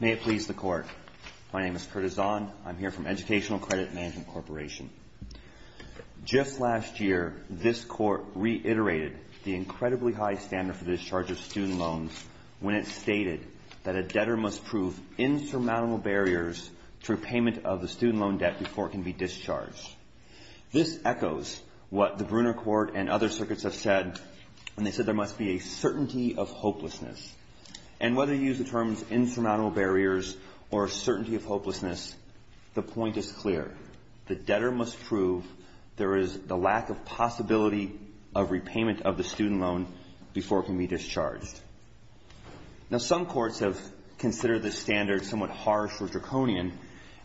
May it please the Court. My name is Curtis Zahn. I'm here from Educational Credit Management Corporation. Just last year, this Court reiterated the incredibly high standard for discharge of student loans when it stated that a debtor must prove insurmountable barriers to repayment of the student loan debt before it can be discharged. This echoes what the Brunner Court and other circuits have said when they said there must be a certainty of hopelessness. And whether you use the terms insurmountable barriers or certainty of hopelessness, the point is clear. The debtor must prove there is the lack of possibility of repayment of the student loan before it can be discharged. Now, some courts have considered this standard somewhat harsh or draconian,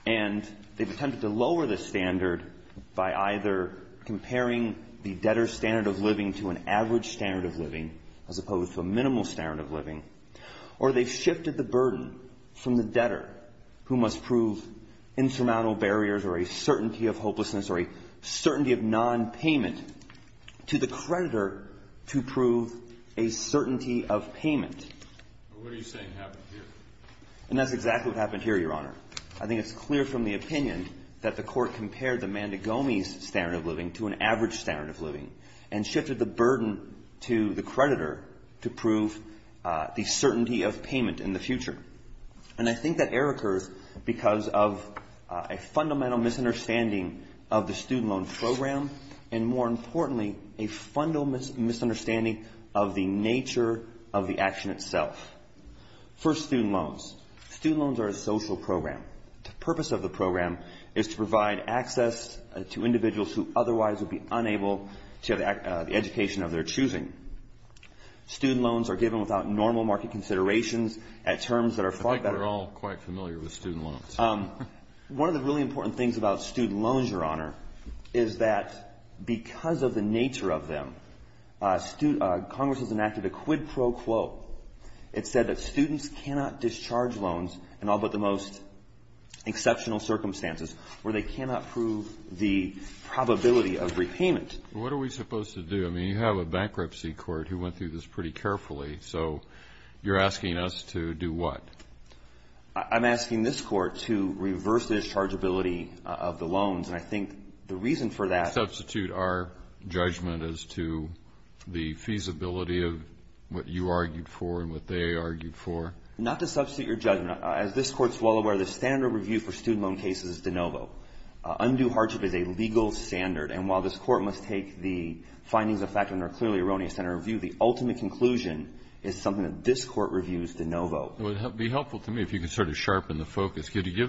and they've attempted to lower this standard by either comparing the debtor's standard of living to an average standard of living, as opposed to a minimal standard of living, or they've shifted the burden from the debtor, who must prove insurmountable barriers or a certainty of hopelessness or a certainty of nonpayment, to the creditor to prove a certainty of payment. What are you saying happened here? And that's exactly what happened here, Your Honor. I think it's clear from the opinion that the Court compared the mandigome's standard of living to an average standard of living and shifted the burden to the creditor to prove the certainty of payment in the future. And I think that error occurs because of a fundamental misunderstanding of the student loan program and, more importantly, a fundamental misunderstanding of the nature of the action itself. First, student loans. Student loans are a social program. The purpose of the program is to provide access to individuals who otherwise would be unable to have the education of their choosing. Student loans are given without normal market considerations at terms that are far better. I think we're all quite familiar with student loans. One of the really important things about student loans, Your Honor, is that because of the nature of them, Congress has enacted a quid pro quo. It said that students cannot discharge loans in all but the most exceptional circumstances where they cannot prove the probability of repayment. What are we supposed to do? I mean, you have a bankruptcy court who went through this pretty carefully. So you're asking us to do what? I'm asking this Court to reverse the dischargeability of the loans. And I think the reason for that… Substitute our judgment as to the feasibility of what you argued for and what they argued for? Not to substitute your judgment. As this Court is well aware, the standard review for student loan cases is de novo. Undue hardship is a legal standard. And while this Court must take the findings of fact and are clearly erroneous in our view, the ultimate conclusion is something that this Court reviews de novo. It would be helpful to me if you could sort of sharpen the focus. Could you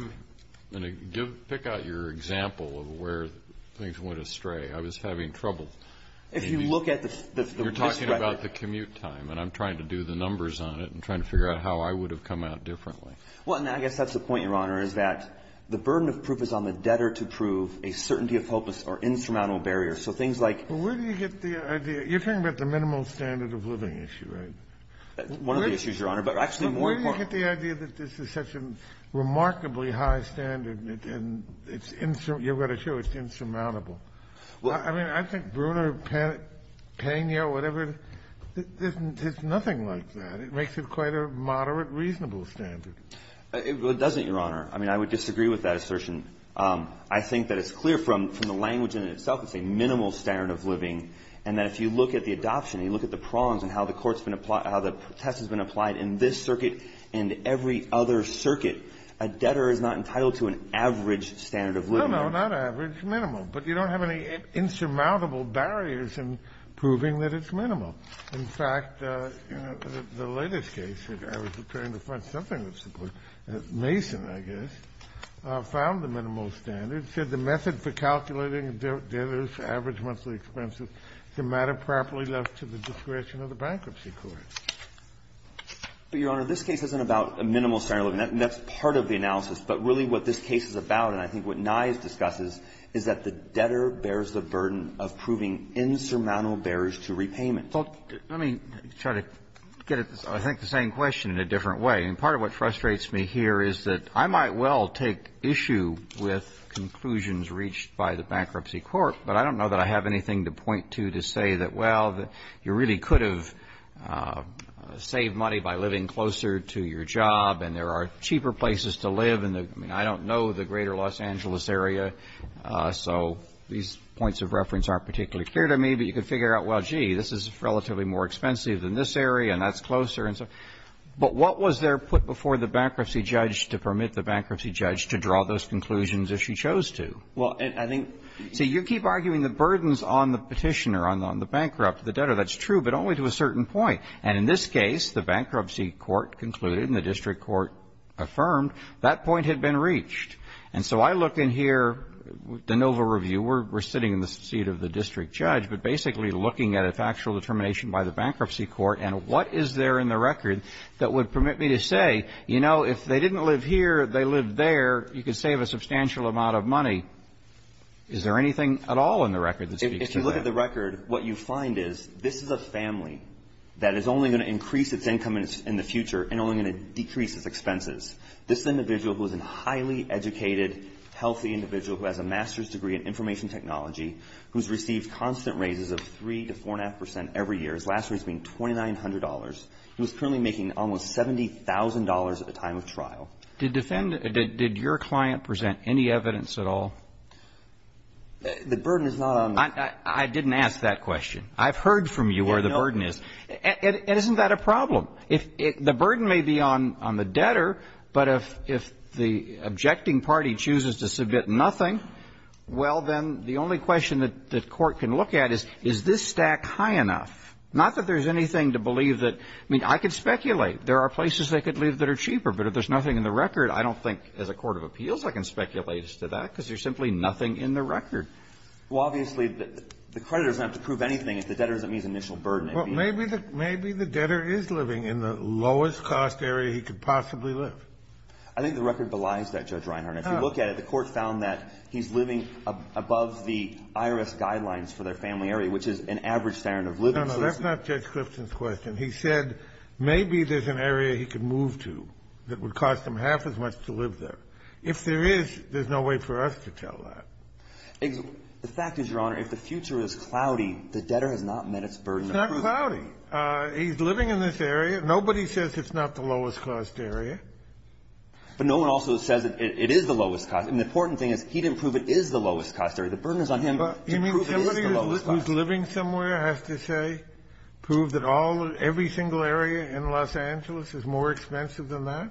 give – pick out your example of where things went astray. I was having trouble. If you look at the… You're talking about the commute time, and I'm trying to do the numbers on it and trying to figure out how I would have come out differently. Well, and I guess that's the point, Your Honor, is that the burden of proof is on the debtor to prove a certainty of hopeless or insurmountable barrier. So things like… But where do you get the idea – you're talking about the minimal standard of living issue, right? One of the issues, Your Honor. But actually more important… But where do you get the idea that this is such a remarkably high standard and it's – you've got to show it's insurmountable? I mean, I think Brewer, Pena, whatever, there's nothing like that. It makes it quite a moderate, reasonable standard. It doesn't, Your Honor. I mean, I would disagree with that assertion. I think that it's clear from the language in itself. It's a minimal standard of living. And that if you look at the adoption and you look at the prongs and how the court's been – how the test has been applied in this circuit and every other circuit, a debtor is not entitled to an average standard of living. No, no, not average. Minimal. But you don't have any insurmountable barriers in proving that it's minimal. In fact, you know, the latest case that I was preparing to find something that's minimal standard said the method for calculating debtors' average monthly expenses is a matter properly left to the discretion of the bankruptcy court. But, Your Honor, this case isn't about a minimal standard of living. That's part of the analysis. But really what this case is about, and I think what Nye discusses, is that the debtor bears the burden of proving insurmountable barriers to repayment. Well, let me try to get at, I think, the same question in a different way. I mean, part of what frustrates me here is that I might well take issue with conclusions reached by the bankruptcy court, but I don't know that I have anything to point to to say that, well, you really could have saved money by living closer to your job, and there are cheaper places to live. I mean, I don't know the greater Los Angeles area, so these points of reference aren't particularly clear to me. But you can figure out, well, gee, this is relatively more expensive than this area, and that's closer. But what was there put before the bankruptcy judge to permit the bankruptcy judge to draw those conclusions if she chose to? See, you keep arguing the burdens on the Petitioner, on the bankrupt, the debtor. That's true, but only to a certain point. And in this case, the bankruptcy court concluded and the district court affirmed that point had been reached. And so I look in here, the Nova review, we're sitting in the seat of the district judge, but basically looking at a factual determination by the bankruptcy court and what is there in the record that would permit me to say, you know, if they didn't live here, they lived there, you could save a substantial amount of money. Is there anything at all in the record that speaks to that? If you look at the record, what you find is this is a family that is only going to increase its income in the future and only going to decrease its expenses. This individual who is a highly educated, healthy individual who has a master's degree in information technology, who's received constant raises of 3 to 4.5 percent every year, his last raise being $2,900. He was currently making almost $70,000 at the time of trial. Did defendant – did your client present any evidence at all? The burden is not on the – I didn't ask that question. I've heard from you where the burden is. And isn't that a problem? The burden may be on the debtor, but if the objecting party chooses to submit nothing, well, then the only question that the Court can look at is, is this stack high enough? Not that there's anything to believe that – I mean, I could speculate. There are places they could live that are cheaper. But if there's nothing in the record, I don't think as a court of appeals I can speculate as to that, because there's simply nothing in the record. Well, obviously, the creditor doesn't have to prove anything if the debtor doesn't meet the initial burden. Well, maybe the debtor is living in the lowest-cost area he could possibly live. I think the record belies that, Judge Reinhart. If you look at it, the Court found that he's living above the IRS guidelines for their family area, which is an average standard of living. No, no. That's not Judge Clifton's question. He said maybe there's an area he could move to that would cost him half as much to live there. If there is, there's no way for us to tell that. The fact is, Your Honor, if the future is cloudy, the debtor has not met its burden to prove it. It's not cloudy. He's living in this area. Nobody says it's not the lowest-cost area. But no one also says it is the lowest-cost. I mean, the important thing is he didn't prove it is the lowest-cost area. The burden is on him to prove it is the lowest-cost. You mean somebody who's living somewhere has to say, prove that all or every single area in Los Angeles is more expensive than that?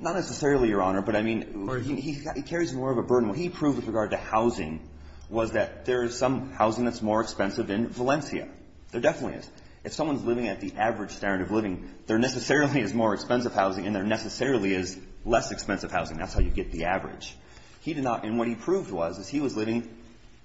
Not necessarily, Your Honor. But I mean, he carries more of a burden. What he proved with regard to housing was that there is some housing that's more expensive in Valencia. There definitely is. If someone's living at the average standard of living, there necessarily is more expensive housing, and there necessarily is less expensive housing. That's how you get the average. He did not. And what he proved was, is he was living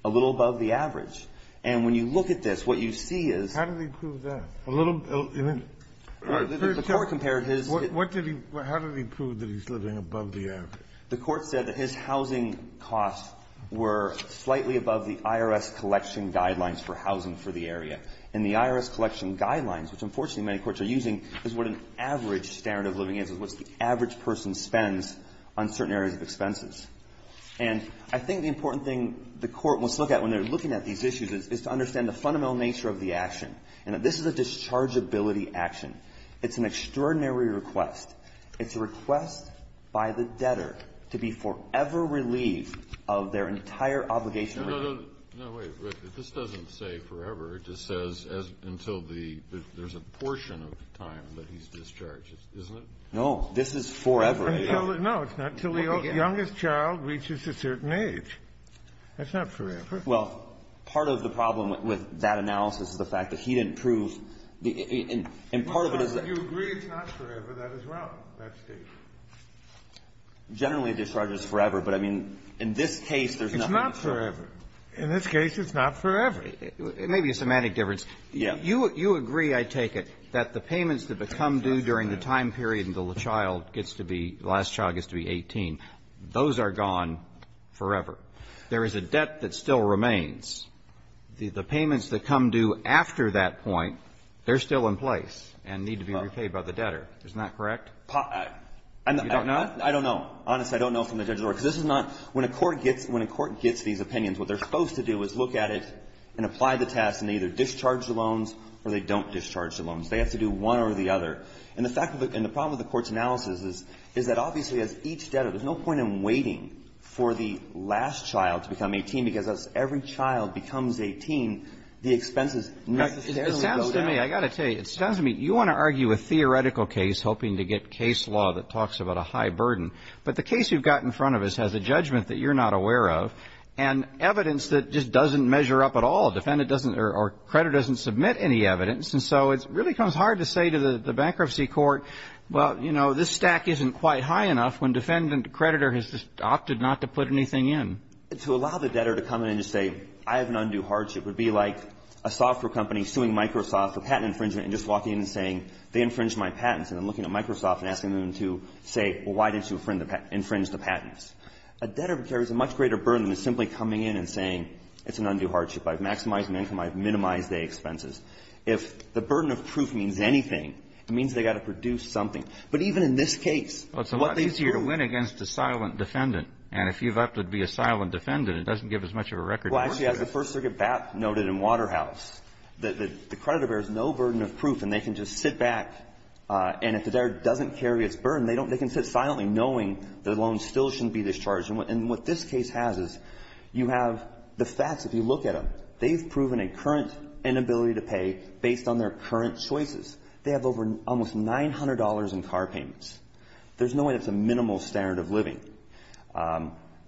a little above the average. And when you look at this, what you see is — How did he prove that? A little — The Court compared his — What did he — how did he prove that he's living above the average? The Court said that his housing costs were slightly above the IRS collection guidelines for housing for the area. And the IRS collection guidelines, which, unfortunately, many courts are using, is what an average standard of living is, is what the average person spends on certain areas of expenses. And I think the important thing the Court must look at when they're looking at these issues is to understand the fundamental nature of the action, and that this is a dischargeability action. It's an extraordinary request. It's a request by the debtor to be forever relieved of their entire obligation to — No, no, no. No, wait. This doesn't say forever. It just says until the — there's a portion of the time that he's discharged, isn't it? No. This is forever. No. It's not until the youngest child reaches a certain age. That's not forever. Well, part of the problem with that analysis is the fact that he didn't prove the — and part of it is that — You agree it's not forever. That is wrong, that statement. Generally, it discharges forever. But, I mean, in this case, there's nothing to prove. It's not forever. In this case, it's not forever. It may be a semantic difference. You agree, I take it, that the payments that become due during the time period until the child gets to be — the last child gets to be 18, those are gone forever. There is a debt that still remains. The payments that come due after that point, they're still in place and need to be repaid by the debtor. Isn't that correct? You don't know? I don't know. Honestly, I don't know from the judge's work. Because this is not — when a court gets — when a court gets these opinions, what they're supposed to do is look at it and apply the task and either discharge the loans or they don't discharge the loans. They have to do one or the other. And the fact of the — and the problem with the Court's analysis is, is that obviously as each debtor — there's no point in waiting for the last child to become 18, because as every child becomes 18, the expenses necessarily go down. It sounds to me — I got to tell you, it sounds to me — you want to argue a theoretical case hoping to get case law that talks about a high burden. But the case you've got in front of us has a judgment that you're not aware of. And evidence that just doesn't measure up at all. Defendant doesn't — or creditor doesn't submit any evidence. And so it really becomes hard to say to the bankruptcy court, well, you know, this stack isn't quite high enough when defendant creditor has just opted not to put anything in. To allow the debtor to come in and just say, I have an undue hardship, would be like a software company suing Microsoft for patent infringement and just walking in and saying, they infringed my patents, and then looking at Microsoft and asking them to say, well, why did you infringe the patents? A debtor carries a much greater burden than simply coming in and saying, it's an undue hardship. I've maximized my income. I've minimized the expenses. If the burden of proof means anything, it means they've got to produce something. But even in this case, what they've proved — Well, it's a lot easier to win against a silent defendant. And if you've opted to be a silent defendant, it doesn't give as much of a record to work with. Well, actually, as the First Circuit noted in Waterhouse, the creditor bears no burden of proof, and they can just sit back. And if the debtor doesn't carry its burden, they don't — they can sit silently knowing their loan still shouldn't be discharged. And what this case has is you have the facts. If you look at them, they've proven a current inability to pay based on their current choices. They have over — almost $900 in car payments. There's no way that's a minimal standard of living.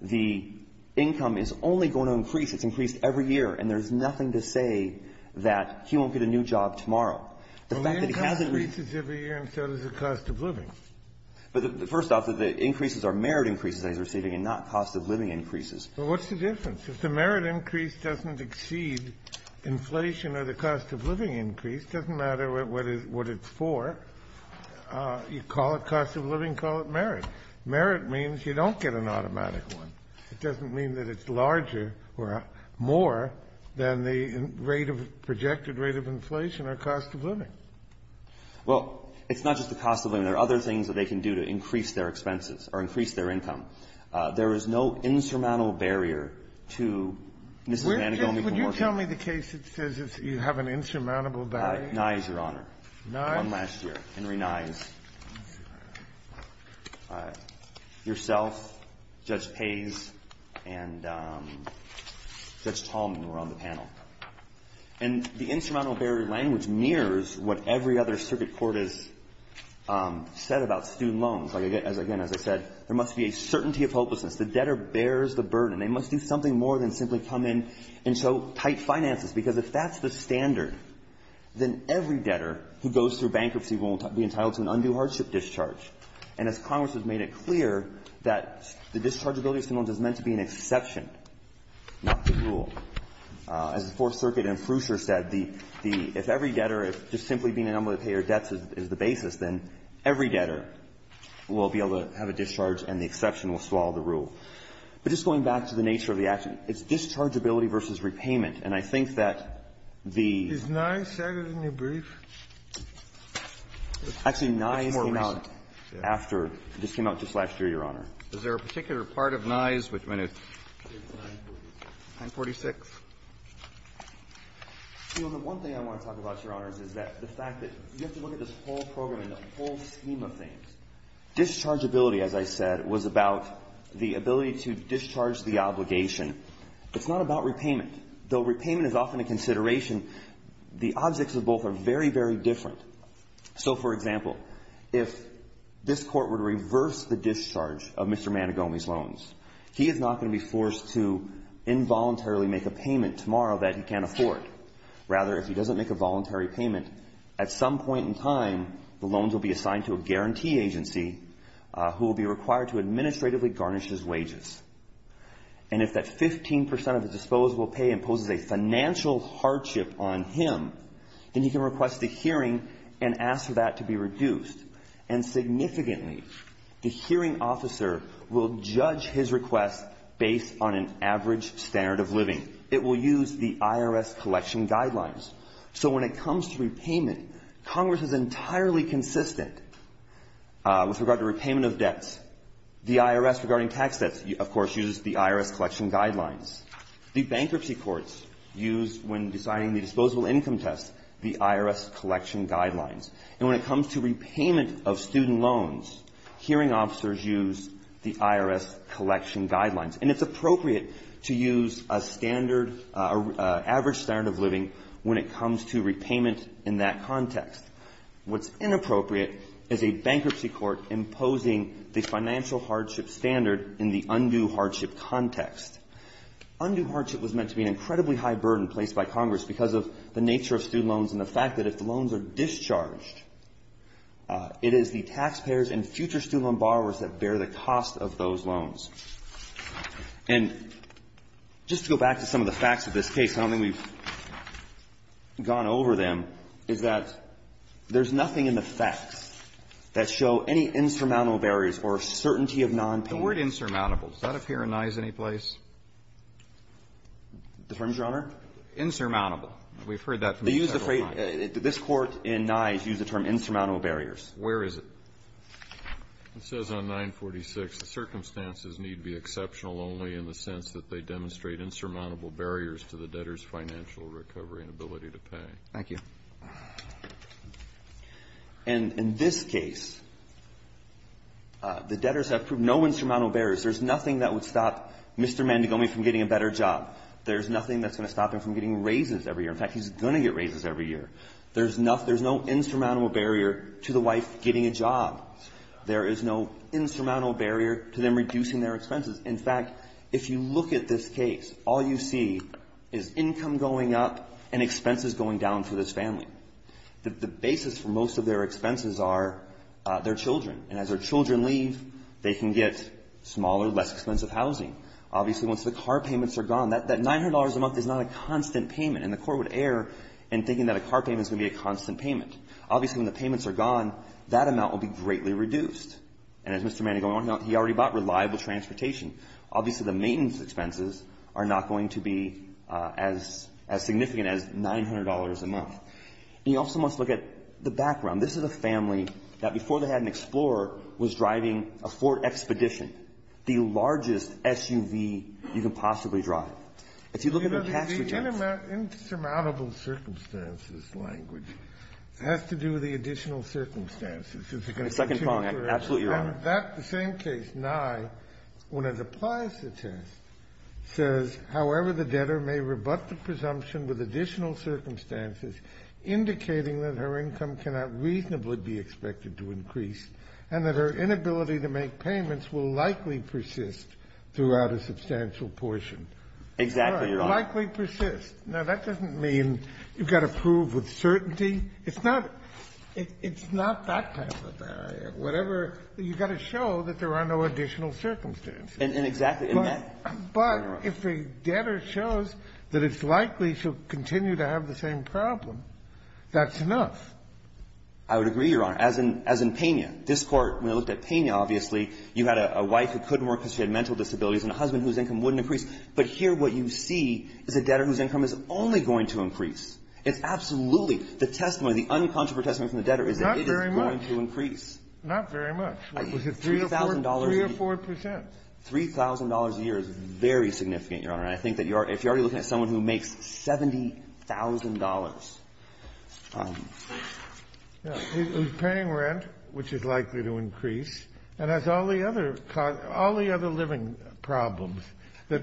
The income is only going to increase. It's increased every year. And there's nothing to say that he won't get a new job tomorrow. The fact that he hasn't — Well, the income increases every year, and so does the cost of living. But first off, the increases are merit increases that he's receiving and not cost of living increases. Well, what's the difference? If the merit increase doesn't exceed inflation or the cost of living increase, it doesn't matter what it's for. You call it cost of living, call it merit. Merit means you don't get an automatic one. It doesn't mean that it's larger or more than the rate of — projected rate of inflation or cost of living. Well, it's not just the cost of living. There are other things that they can do to increase their expenses or increase their income. There is no insurmountable barrier to Mr. Manigaume from working. Would you tell me the case that says you have an insurmountable barrier? Nye's, Your Honor. Nye's? One last year. Henry Nye's. All right. Yourself, Judge Pays, and Judge Tallman were on the panel. And the insurmountable barrier language nears what every other circuit court has said about student loans. Like, again, as I said, there must be a certainty of hopelessness. The debtor bears the burden. They must do something more than simply come in and show tight finances, because if that's the standard, then every debtor who goes through bankruptcy will be entitled to an undue hardship discharge. And as Congress has made it clear, that the dischargeability of student loans is meant to be an exception, not the rule. As the Fourth Circuit and Prusher said, the — if every debtor, if just simply being unable to pay your debts is the basis, then every debtor will be able to have a discharge and the exception will swallow the rule. But just going back to the nature of the action, it's dischargeability versus repayment. And I think that the — Is Nye's settled in your brief? Actually, Nye's came out after — just came out just last year, Your Honor. Is there a particular part of Nye's which went at 946? The one thing I want to talk about, Your Honors, is that the fact that you have to look at this whole program and the whole scheme of things. Dischargeability, as I said, was about the ability to discharge the obligation. It's not about repayment. Though repayment is often a consideration, the objects of both are very, very different. So, for example, if this Court were to reverse the discharge of Mr. Manigomi's loans, he is not going to be forced to involuntarily make a payment tomorrow that he can't afford. Rather, if he doesn't make a voluntary payment, at some point in time, the loans will be assigned to a guarantee agency who will be required to administratively garnish his wages. And if that 15 percent of his disposable pay imposes a financial hardship on him, then he can request a hearing and ask for that to be reduced. And significantly, the hearing officer will judge his request based on an average standard of living. It will use the IRS collection guidelines. So when it comes to repayment, Congress is entirely consistent with regard to repayment of debts. The IRS regarding tax debts, of course, uses the IRS collection guidelines. The bankruptcy courts use, when deciding the disposable income test, the IRS collection guidelines. And when it comes to repayment of student loans, hearing officers use the IRS collection guidelines. And it's appropriate to use a standard, average standard of living when it comes to repayment in that context. What's inappropriate is a bankruptcy court imposing the financial hardship standard in the undue hardship context. Undue hardship was meant to be an incredibly high burden placed by Congress because of the nature of student loans and the fact that if the loans are discharged, it is the taxpayers and future student loan borrowers that bear the cost of those loans. And just to go back to some of the facts of this case, and I don't think we've gone over them, is that there's nothing in the facts that show any insurmountable barriers or certainty of nonpayment. The word insurmountable, does that appear in Nye's any place? The firm's Your Honor? Insurmountable. We've heard that. They use the phrase – this Court in Nye's used the term insurmountable barriers. Where is it? It says on 946, the circumstances need be exceptional only in the sense that they demonstrate insurmountable barriers to the debtor's financial recovery and ability to pay. Thank you. And in this case, the debtors have proved no insurmountable barriers. There's nothing that would stop Mr. Mandigomi from getting a better job. There's nothing that's going to stop him from getting raises every year. In fact, he's going to get raises every year. There's no insurmountable barrier to the wife getting a job. There is no insurmountable barrier to them reducing their expenses. In fact, if you look at this case, all you see is income going up and expenses going down for this family. The basis for most of their expenses are their children. And as their children leave, they can get smaller, less expensive housing. Obviously, once the car payments are gone, that $900 a month is not a constant payment. And the Court would err in thinking that a car payment is going to be a constant payment. Obviously, when the payments are gone, that amount will be greatly reduced. And as Mr. Mandigomi pointed out, he already bought reliable transportation. Obviously, the maintenance expenses are not going to be as significant as $900 a month. And you also must look at the background. This is a family that, before they had an Explorer, was driving a Ford Expedition, the largest SUV you can possibly drive. If you look at their tax returns. The insurmountable circumstances language has to do with the additional circumstances. Is it going to continue forever? Absolutely, Your Honor. The same case, Nye, when it applies the test, says, however, the debtor may rebut the presumption with additional circumstances indicating that her income cannot reasonably be expected to increase and that her inability to make payments will likely persist throughout a substantial portion. Exactly, Your Honor. Likely persist. Now, that doesn't mean you've got to prove with certainty. It's not that kind of a barrier. Whatever. You've got to show that there are no additional circumstances. And exactly. But if the debtor shows that it's likely she'll continue to have the same problem, that's enough. I would agree, Your Honor. As in Pena. This Court, when it looked at Pena, obviously, you had a wife who couldn't work because she had mental disabilities and a husband whose income wouldn't increase. But here what you see is a debtor whose income is only going to increase. It's absolutely. The testimony, the uncontroversial testimony from the debtor is that it is going Not very much. Not very much. Was it $3,000 a year? 3 or 4 percent. $3,000 a year is very significant, Your Honor. And I think that if you're already looking at someone who makes $70,000. He's paying rent, which is likely to increase, and has all the other living problems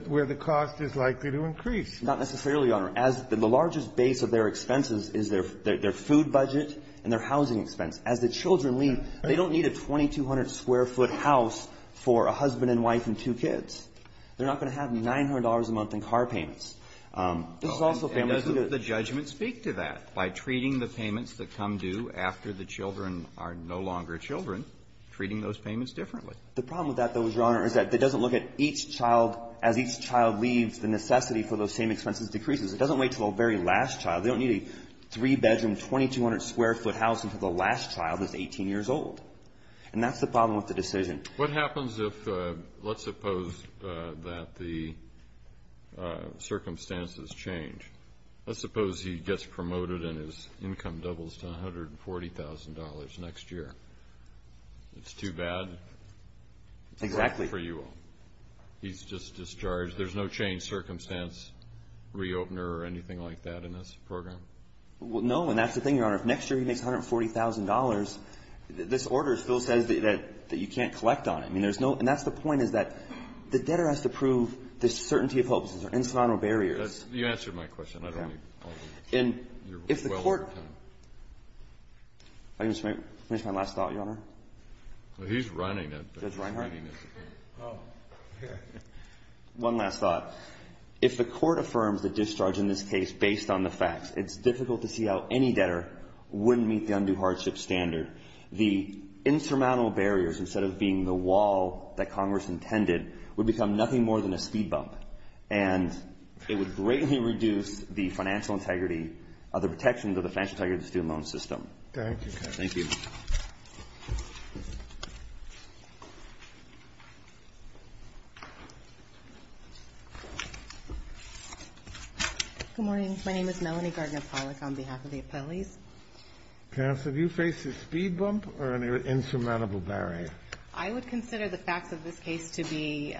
where the cost is likely to increase. Not necessarily, Your Honor. As the largest base of their expenses is their food budget and their housing expense. As the children leave, they don't need a 2,200-square-foot house for a husband and wife and two kids. They're not going to have $900 a month in car payments. This is also a family student. And doesn't the judgment speak to that, by treating the payments that come due after the children are no longer children, treating those payments differently? The problem with that, though, Your Honor, is that it doesn't look at each child as each child leaves, the necessity for those same expenses decreases. It doesn't wait until the very last child. They don't need a three-bedroom, 2,200-square-foot house until the last child is 18 years old. And that's the problem with the decision. What happens if, let's suppose that the circumstances change? Let's suppose he gets promoted and his income doubles to $140,000 next year. It's too bad? Exactly. He's just discharged. There's no change circumstance, re-opener or anything like that in this program? Well, no. And that's the thing, Your Honor. If next year he makes $140,000, this order still says that you can't collect on him. I mean, there's no – and that's the point, is that the debtor has to prove there's certainty of hope. These are incidental barriers. That's – you answered my question. I don't need all this. You're well over time. And if the Court – if I can just finish my last thought, Your Honor. Well, he's running it. Judge Reinhardt? Oh. One last thought. If the Court affirms the discharge in this case based on the facts, it's difficult to see how any debtor wouldn't meet the undue hardship standard. The insurmountable barriers, instead of being the wall that Congress intended, would become nothing more than a speed bump, and it would greatly reduce the financial integrity of the protection of the financial integrity of the student loan system. Thank you. Thank you. Good morning. My name is Melanie Gardner-Pollock on behalf of the appellees. Counsel, do you face a speed bump or an insurmountable barrier? I would consider the facts of this case to be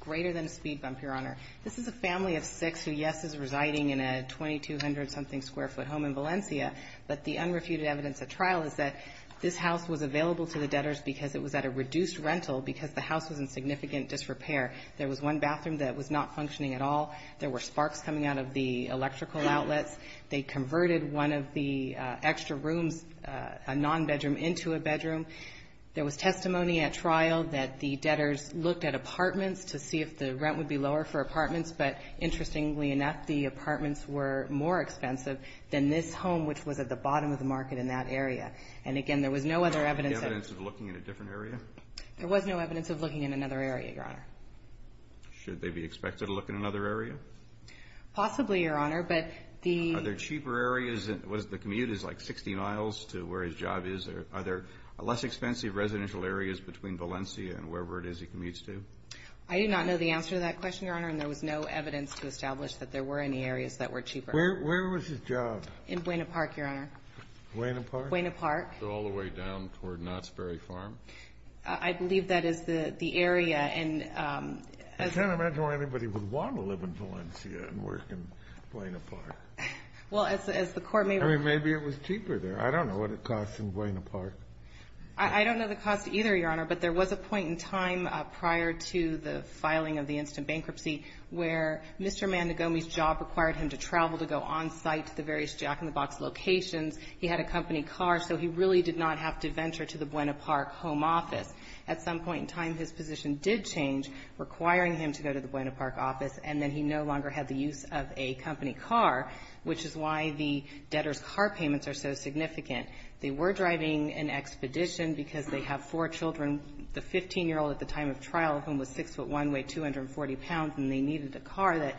greater than a speed bump, Your Honor. This is a family of six who, yes, is residing in a 2,200-something-square-foot home in Valencia, but the unrefuted evidence at trial is that this house was available to the debtors because it was at a reduced rental, because the house was in significant disrepair. There was one bathroom that was not functioning at all. There were sparks coming out of the electrical outlets. They converted one of the extra rooms, a non-bedroom, into a bedroom. There was testimony at trial that the debtors looked at apartments to see if the rent would be lower for apartments, but interestingly enough, the apartments were more expensive than this home, which was at the bottom of the market in that area. And again, there was no other evidence of it. Was there any evidence of looking in a different area? There was no evidence of looking in another area, Your Honor. Should they be expected to look in another area? Possibly, Your Honor, but the ---- Are there cheaper areas? Was the commute like 60 miles to where his job is? Are there less expensive residential areas between Valencia and wherever it is he commutes to? I do not know the answer to that question, Your Honor, and there was no evidence to establish that there were any areas that were cheaper. Where was his job? In Buena Park, Your Honor. Buena Park? All the way down toward Knott's Berry Farm? I believe that is the area, and as ---- I can't imagine why anybody would want to live in Valencia and work in Buena Park. Well, as the Court may ---- I mean, maybe it was cheaper there. I don't know what it costs in Buena Park. I don't know the cost either, Your Honor, but there was a point in time prior to the filing of the instant bankruptcy where Mr. Mandegomi's job required him to travel to go on site to the various Jack in the Box locations. He had a company car, so he really did not have to venture to the Buena Park home office. At some point in time, his position did change, requiring him to go to the Buena Park office, and then he no longer had the use of a company car, which is why the debtor's car payments are so significant. They were driving an expedition because they have four children. The 15-year-old at the time of trial, whom was 6'1", weighed 240 pounds, and they needed a car that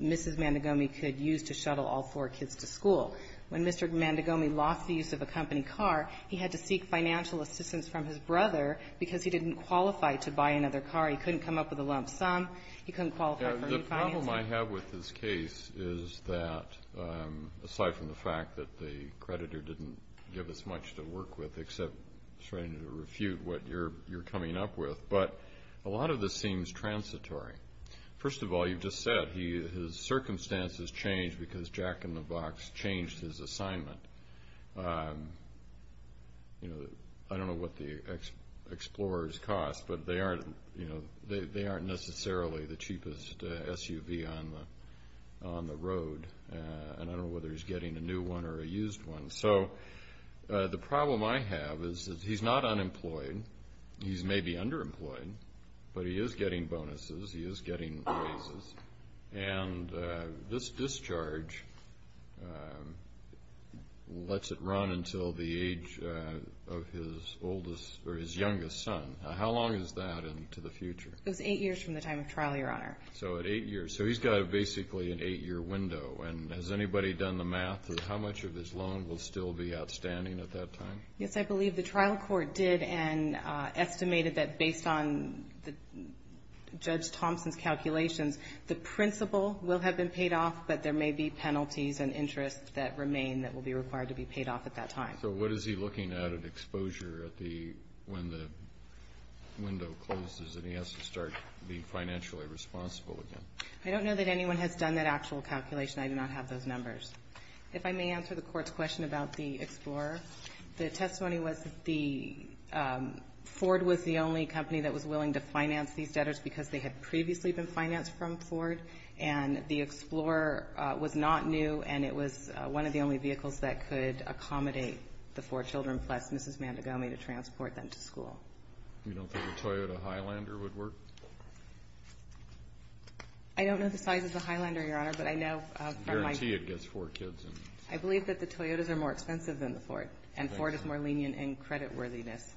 Mrs. Mandegomi could use to shuttle all four kids to school. When Mr. Mandegomi lost the use of a company car, he had to seek financial assistance from his brother because he didn't qualify to buy another car. He couldn't come up with a lump sum. He couldn't qualify for refinancing. The problem I have with this case is that, aside from the fact that the creditor didn't give us much to work with except trying to refute what you're coming up with, but a lot of this seems transitory. First of all, you just said his circumstances changed because Jack in the Box changed his assignment. I don't know what the Explorer's cost, but they aren't necessarily the cheapest SUV on the road, and I don't know whether he's getting a new one or a used one. So the problem I have is that he's not unemployed. He's maybe underemployed, but he is getting bonuses. He is getting raises. And this discharge lets it run until the age of his youngest son. How long is that into the future? It's eight years from the time of trial, Your Honor. So at eight years. So he's got basically an eight-year window. And has anybody done the math of how much of his loan will still be outstanding at that time? Yes, I believe the trial court did and estimated that based on Judge Thompson's testimony, the principal will have been paid off, but there may be penalties and interest that remain that will be required to be paid off at that time. So what is he looking at at exposure when the window closes and he has to start being financially responsible again? I don't know that anyone has done that actual calculation. I do not have those numbers. If I may answer the Court's question about the Explorer, the testimony was that Ford was the only company that was willing to finance these debtors because they had previously been financed from Ford. And the Explorer was not new, and it was one of the only vehicles that could accommodate the four children plus Mrs. Mandagomi to transport them to school. You don't think a Toyota Highlander would work? I don't know the size of the Highlander, Your Honor, but I know from my ---- I guarantee it gets four kids. I believe that the Toyotas are more expensive than the Ford, and Ford is more lenient in credit worthiness.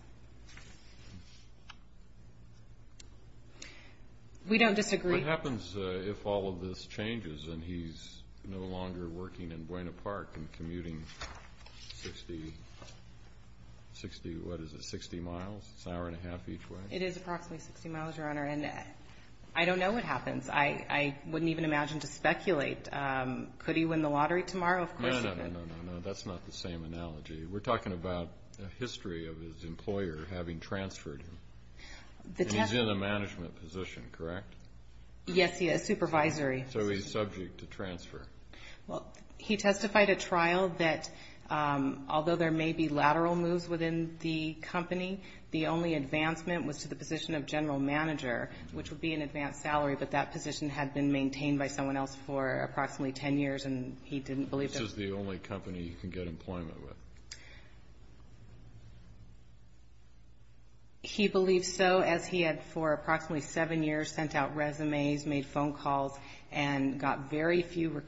We don't disagree. What happens if all of this changes and he's no longer working in Buena Park and commuting 60, what is it, 60 miles, an hour and a half each way? It is approximately 60 miles, Your Honor, and I don't know what happens. I wouldn't even imagine to speculate. Could he win the lottery tomorrow? Of course he could. No, no, no, no, no, no. That's not the same analogy. We're talking about a history of his employer having transferred him. He's in a management position, correct? Yes, he is, supervisory. So he's subject to transfer. Well, he testified at trial that although there may be lateral moves within the company, the only advancement was to the position of general manager, which would be an advanced salary, but that position had been maintained by someone else for approximately 10 years, and he didn't believe that. Which is the only company you can get employment with? He believed so, as he had for approximately seven years sent out resumes, made phone calls, and got very few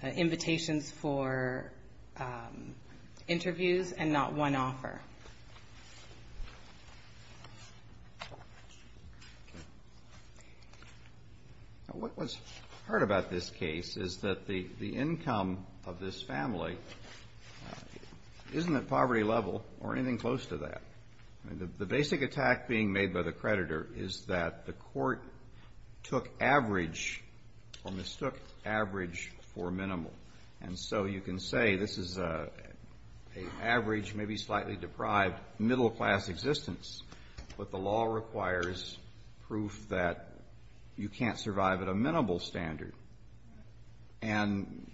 invitations for interviews and not one offer. Now, what was hard about this case is that the income of this family isn't at poverty level or anything close to that. The basic attack being made by the creditor is that the court took average or mistook average for minimal. And so you can say this is an average, maybe slightly deprived, middle-class existence, but the law requires proof that you can't survive at a minimal standard. And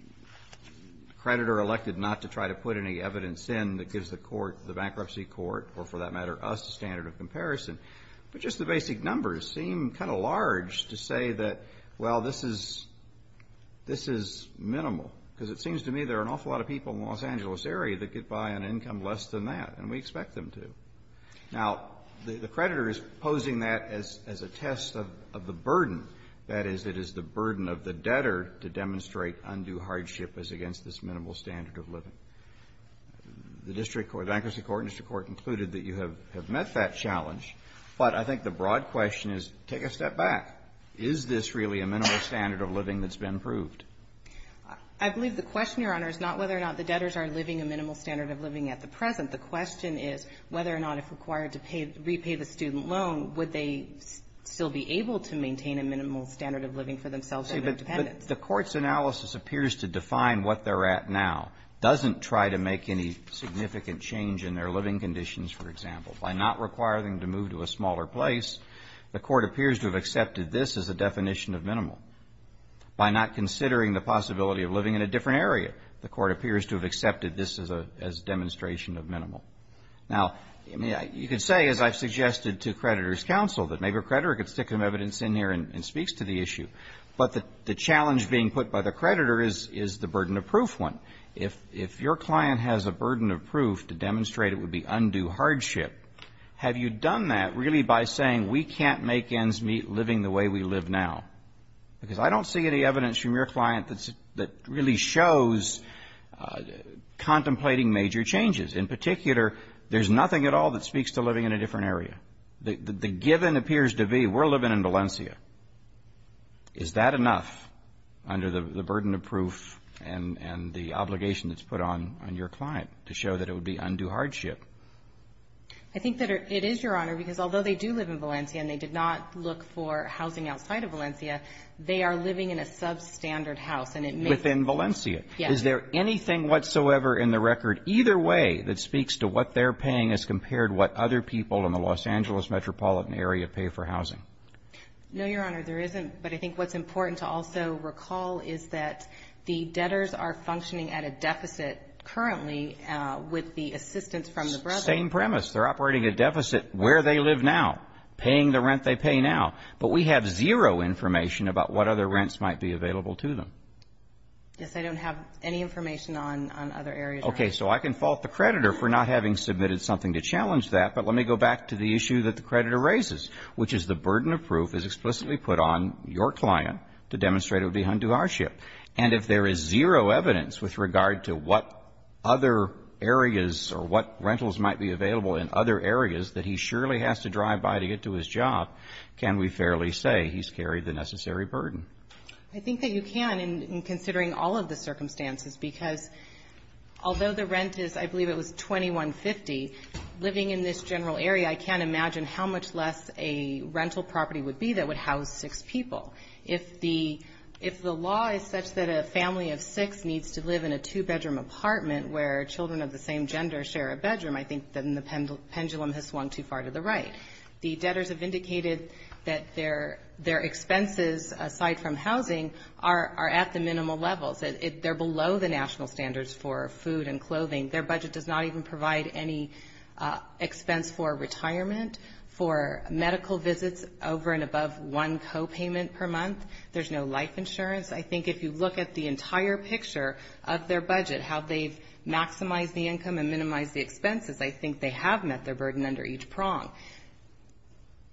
the creditor elected not to try to put any evidence in that gives the court, the bankruptcy court, or for that matter us, a standard of comparison. But just the basic numbers seem kind of large to say that, well, this is minimal. Because it seems to me there are an awful lot of people in the Los Angeles area that could buy an income less than that, and we expect them to. Now, the creditor is posing that as a test of the burden. That is, it is the burden of the debtor to demonstrate undue hardship as against this minimal standard of living. The district court, the bankruptcy court and district court concluded that you have met that challenge, but I think the broad question is, take a step back. Is this really a minimal standard of living that's been proved? I believe the question, Your Honor, is not whether or not the debtors are living a minimal standard of living at the present. The question is whether or not if required to pay, repay the student loan, would they still be able to maintain a minimal standard of living for themselves and their dependents. But the Court's analysis appears to define what they're at now, doesn't try to make any significant change in their living conditions, for example. By not requiring them to move to a smaller place, the Court appears to have accepted this as a definition of minimal. By not considering the possibility of living in a different area, the Court appears to have accepted this as a demonstration of minimal. Now, you could say, as I've suggested to creditors' counsel, that maybe a creditor could stick some evidence in here and speaks to the issue. But the challenge being put by the creditor is the burden of proof one. If your client has a burden of proof to demonstrate it would be undue hardship, have you done that really by saying we can't make ends meet living the way we live now? Because I don't see any evidence from your client that really shows contemplating major changes. In particular, there's nothing at all that speaks to living in a different area. The given appears to be we're living in Valencia. Is that enough under the burden of proof and the obligation that's put on your client to show that it would be undue hardship? I think that it is, Your Honor, because although they do live in Valencia and they did not look for housing outside of Valencia, they are living in a substandard house. Within Valencia? Yes. Is there anything whatsoever in the record either way that speaks to what they're paying as compared to what other people in the Los Angeles metropolitan area pay for housing? No, Your Honor, there isn't. But I think what's important to also recall is that the debtors are functioning at a deficit currently with the assistance from the brother. Same premise. They're operating a deficit where they live now, paying the rent they pay now. But we have zero information about what other rents might be available to them. Yes, I don't have any information on other areas. Okay. So I can fault the creditor for not having submitted something to challenge that. But let me go back to the issue that the creditor raises, which is the burden of proof is explicitly put on your client to demonstrate it would be undue hardship. And if there is zero evidence with regard to what other areas or what rentals might be available in other areas that he surely has to drive by to get to his job, can we fairly say he's carried the necessary burden? I think that you can in considering all of the circumstances, because although the rent is, I believe it was $2150, living in this general area, I can't imagine how much less a rental property would be that would house six people. If the law is such that a family of six needs to live in a two-bedroom apartment where children of the same gender share a bedroom, I think then the pendulum has swung too far to the right. The debtors have indicated that their expenses, aside from housing, are at the minimal levels. They're below the national standards for food and clothing. Their budget does not even provide any expense for retirement, for medical visits over and above one copayment per month. There's no life insurance. I think if you look at the entire picture of their budget, how they've maximized the income and minimized the expenses, I think they have met their burden under each prong.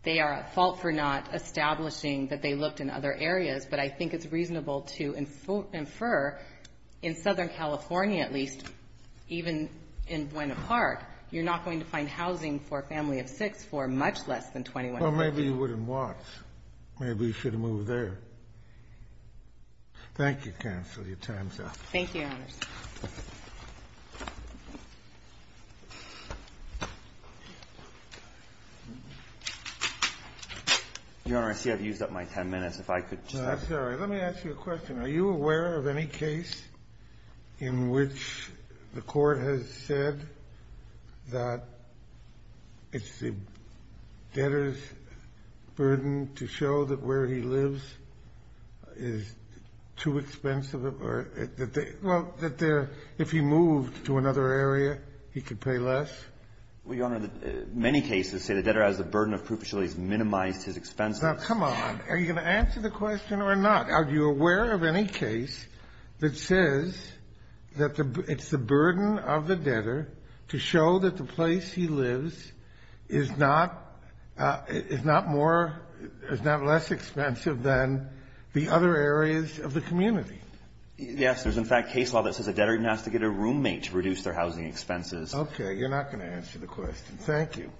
They are at fault for not establishing that they looked in other areas, but I think it's reasonable to infer, in Southern California at least, even in Buena Park, you're not going to find housing for a family of six for much less than $2150. Well, maybe you wouldn't watch. Maybe you should have moved there. Thank you, counsel. Your time's up. Thank you, Your Honor. Your Honor, I see I've used up my 10 minutes. If I could just ask you a question. I'm sorry. Let me ask you a question. Are you aware of any case in which the Court has said that it's the debtor's burden to show that where he lives is too expensive or that they — well, that if he moved to another area, he could pay less? Well, Your Honor, many cases say the debtor has the burden of proof until he's minimized his expenses. Now, come on. Are you going to answer the question or not? Are you aware of any case that says that it's the burden of the debtor to show that the place he lives is not — is not more — is not less expensive than the other areas of the community? Yes. There's, in fact, case law that says a debtor doesn't have to get a roommate to reduce their housing expenses. Okay. You're not going to answer the question. Thank you.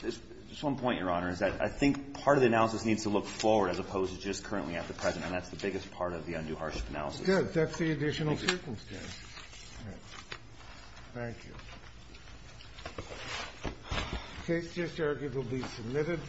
Just one point, Your Honor, is that I think part of the analysis needs to look forward as opposed to just currently at the present, and that's the biggest part of the undue hardship analysis. Good. That's the additional circumstance. Thank you. All right. Thank you. The case is just arguably submitted.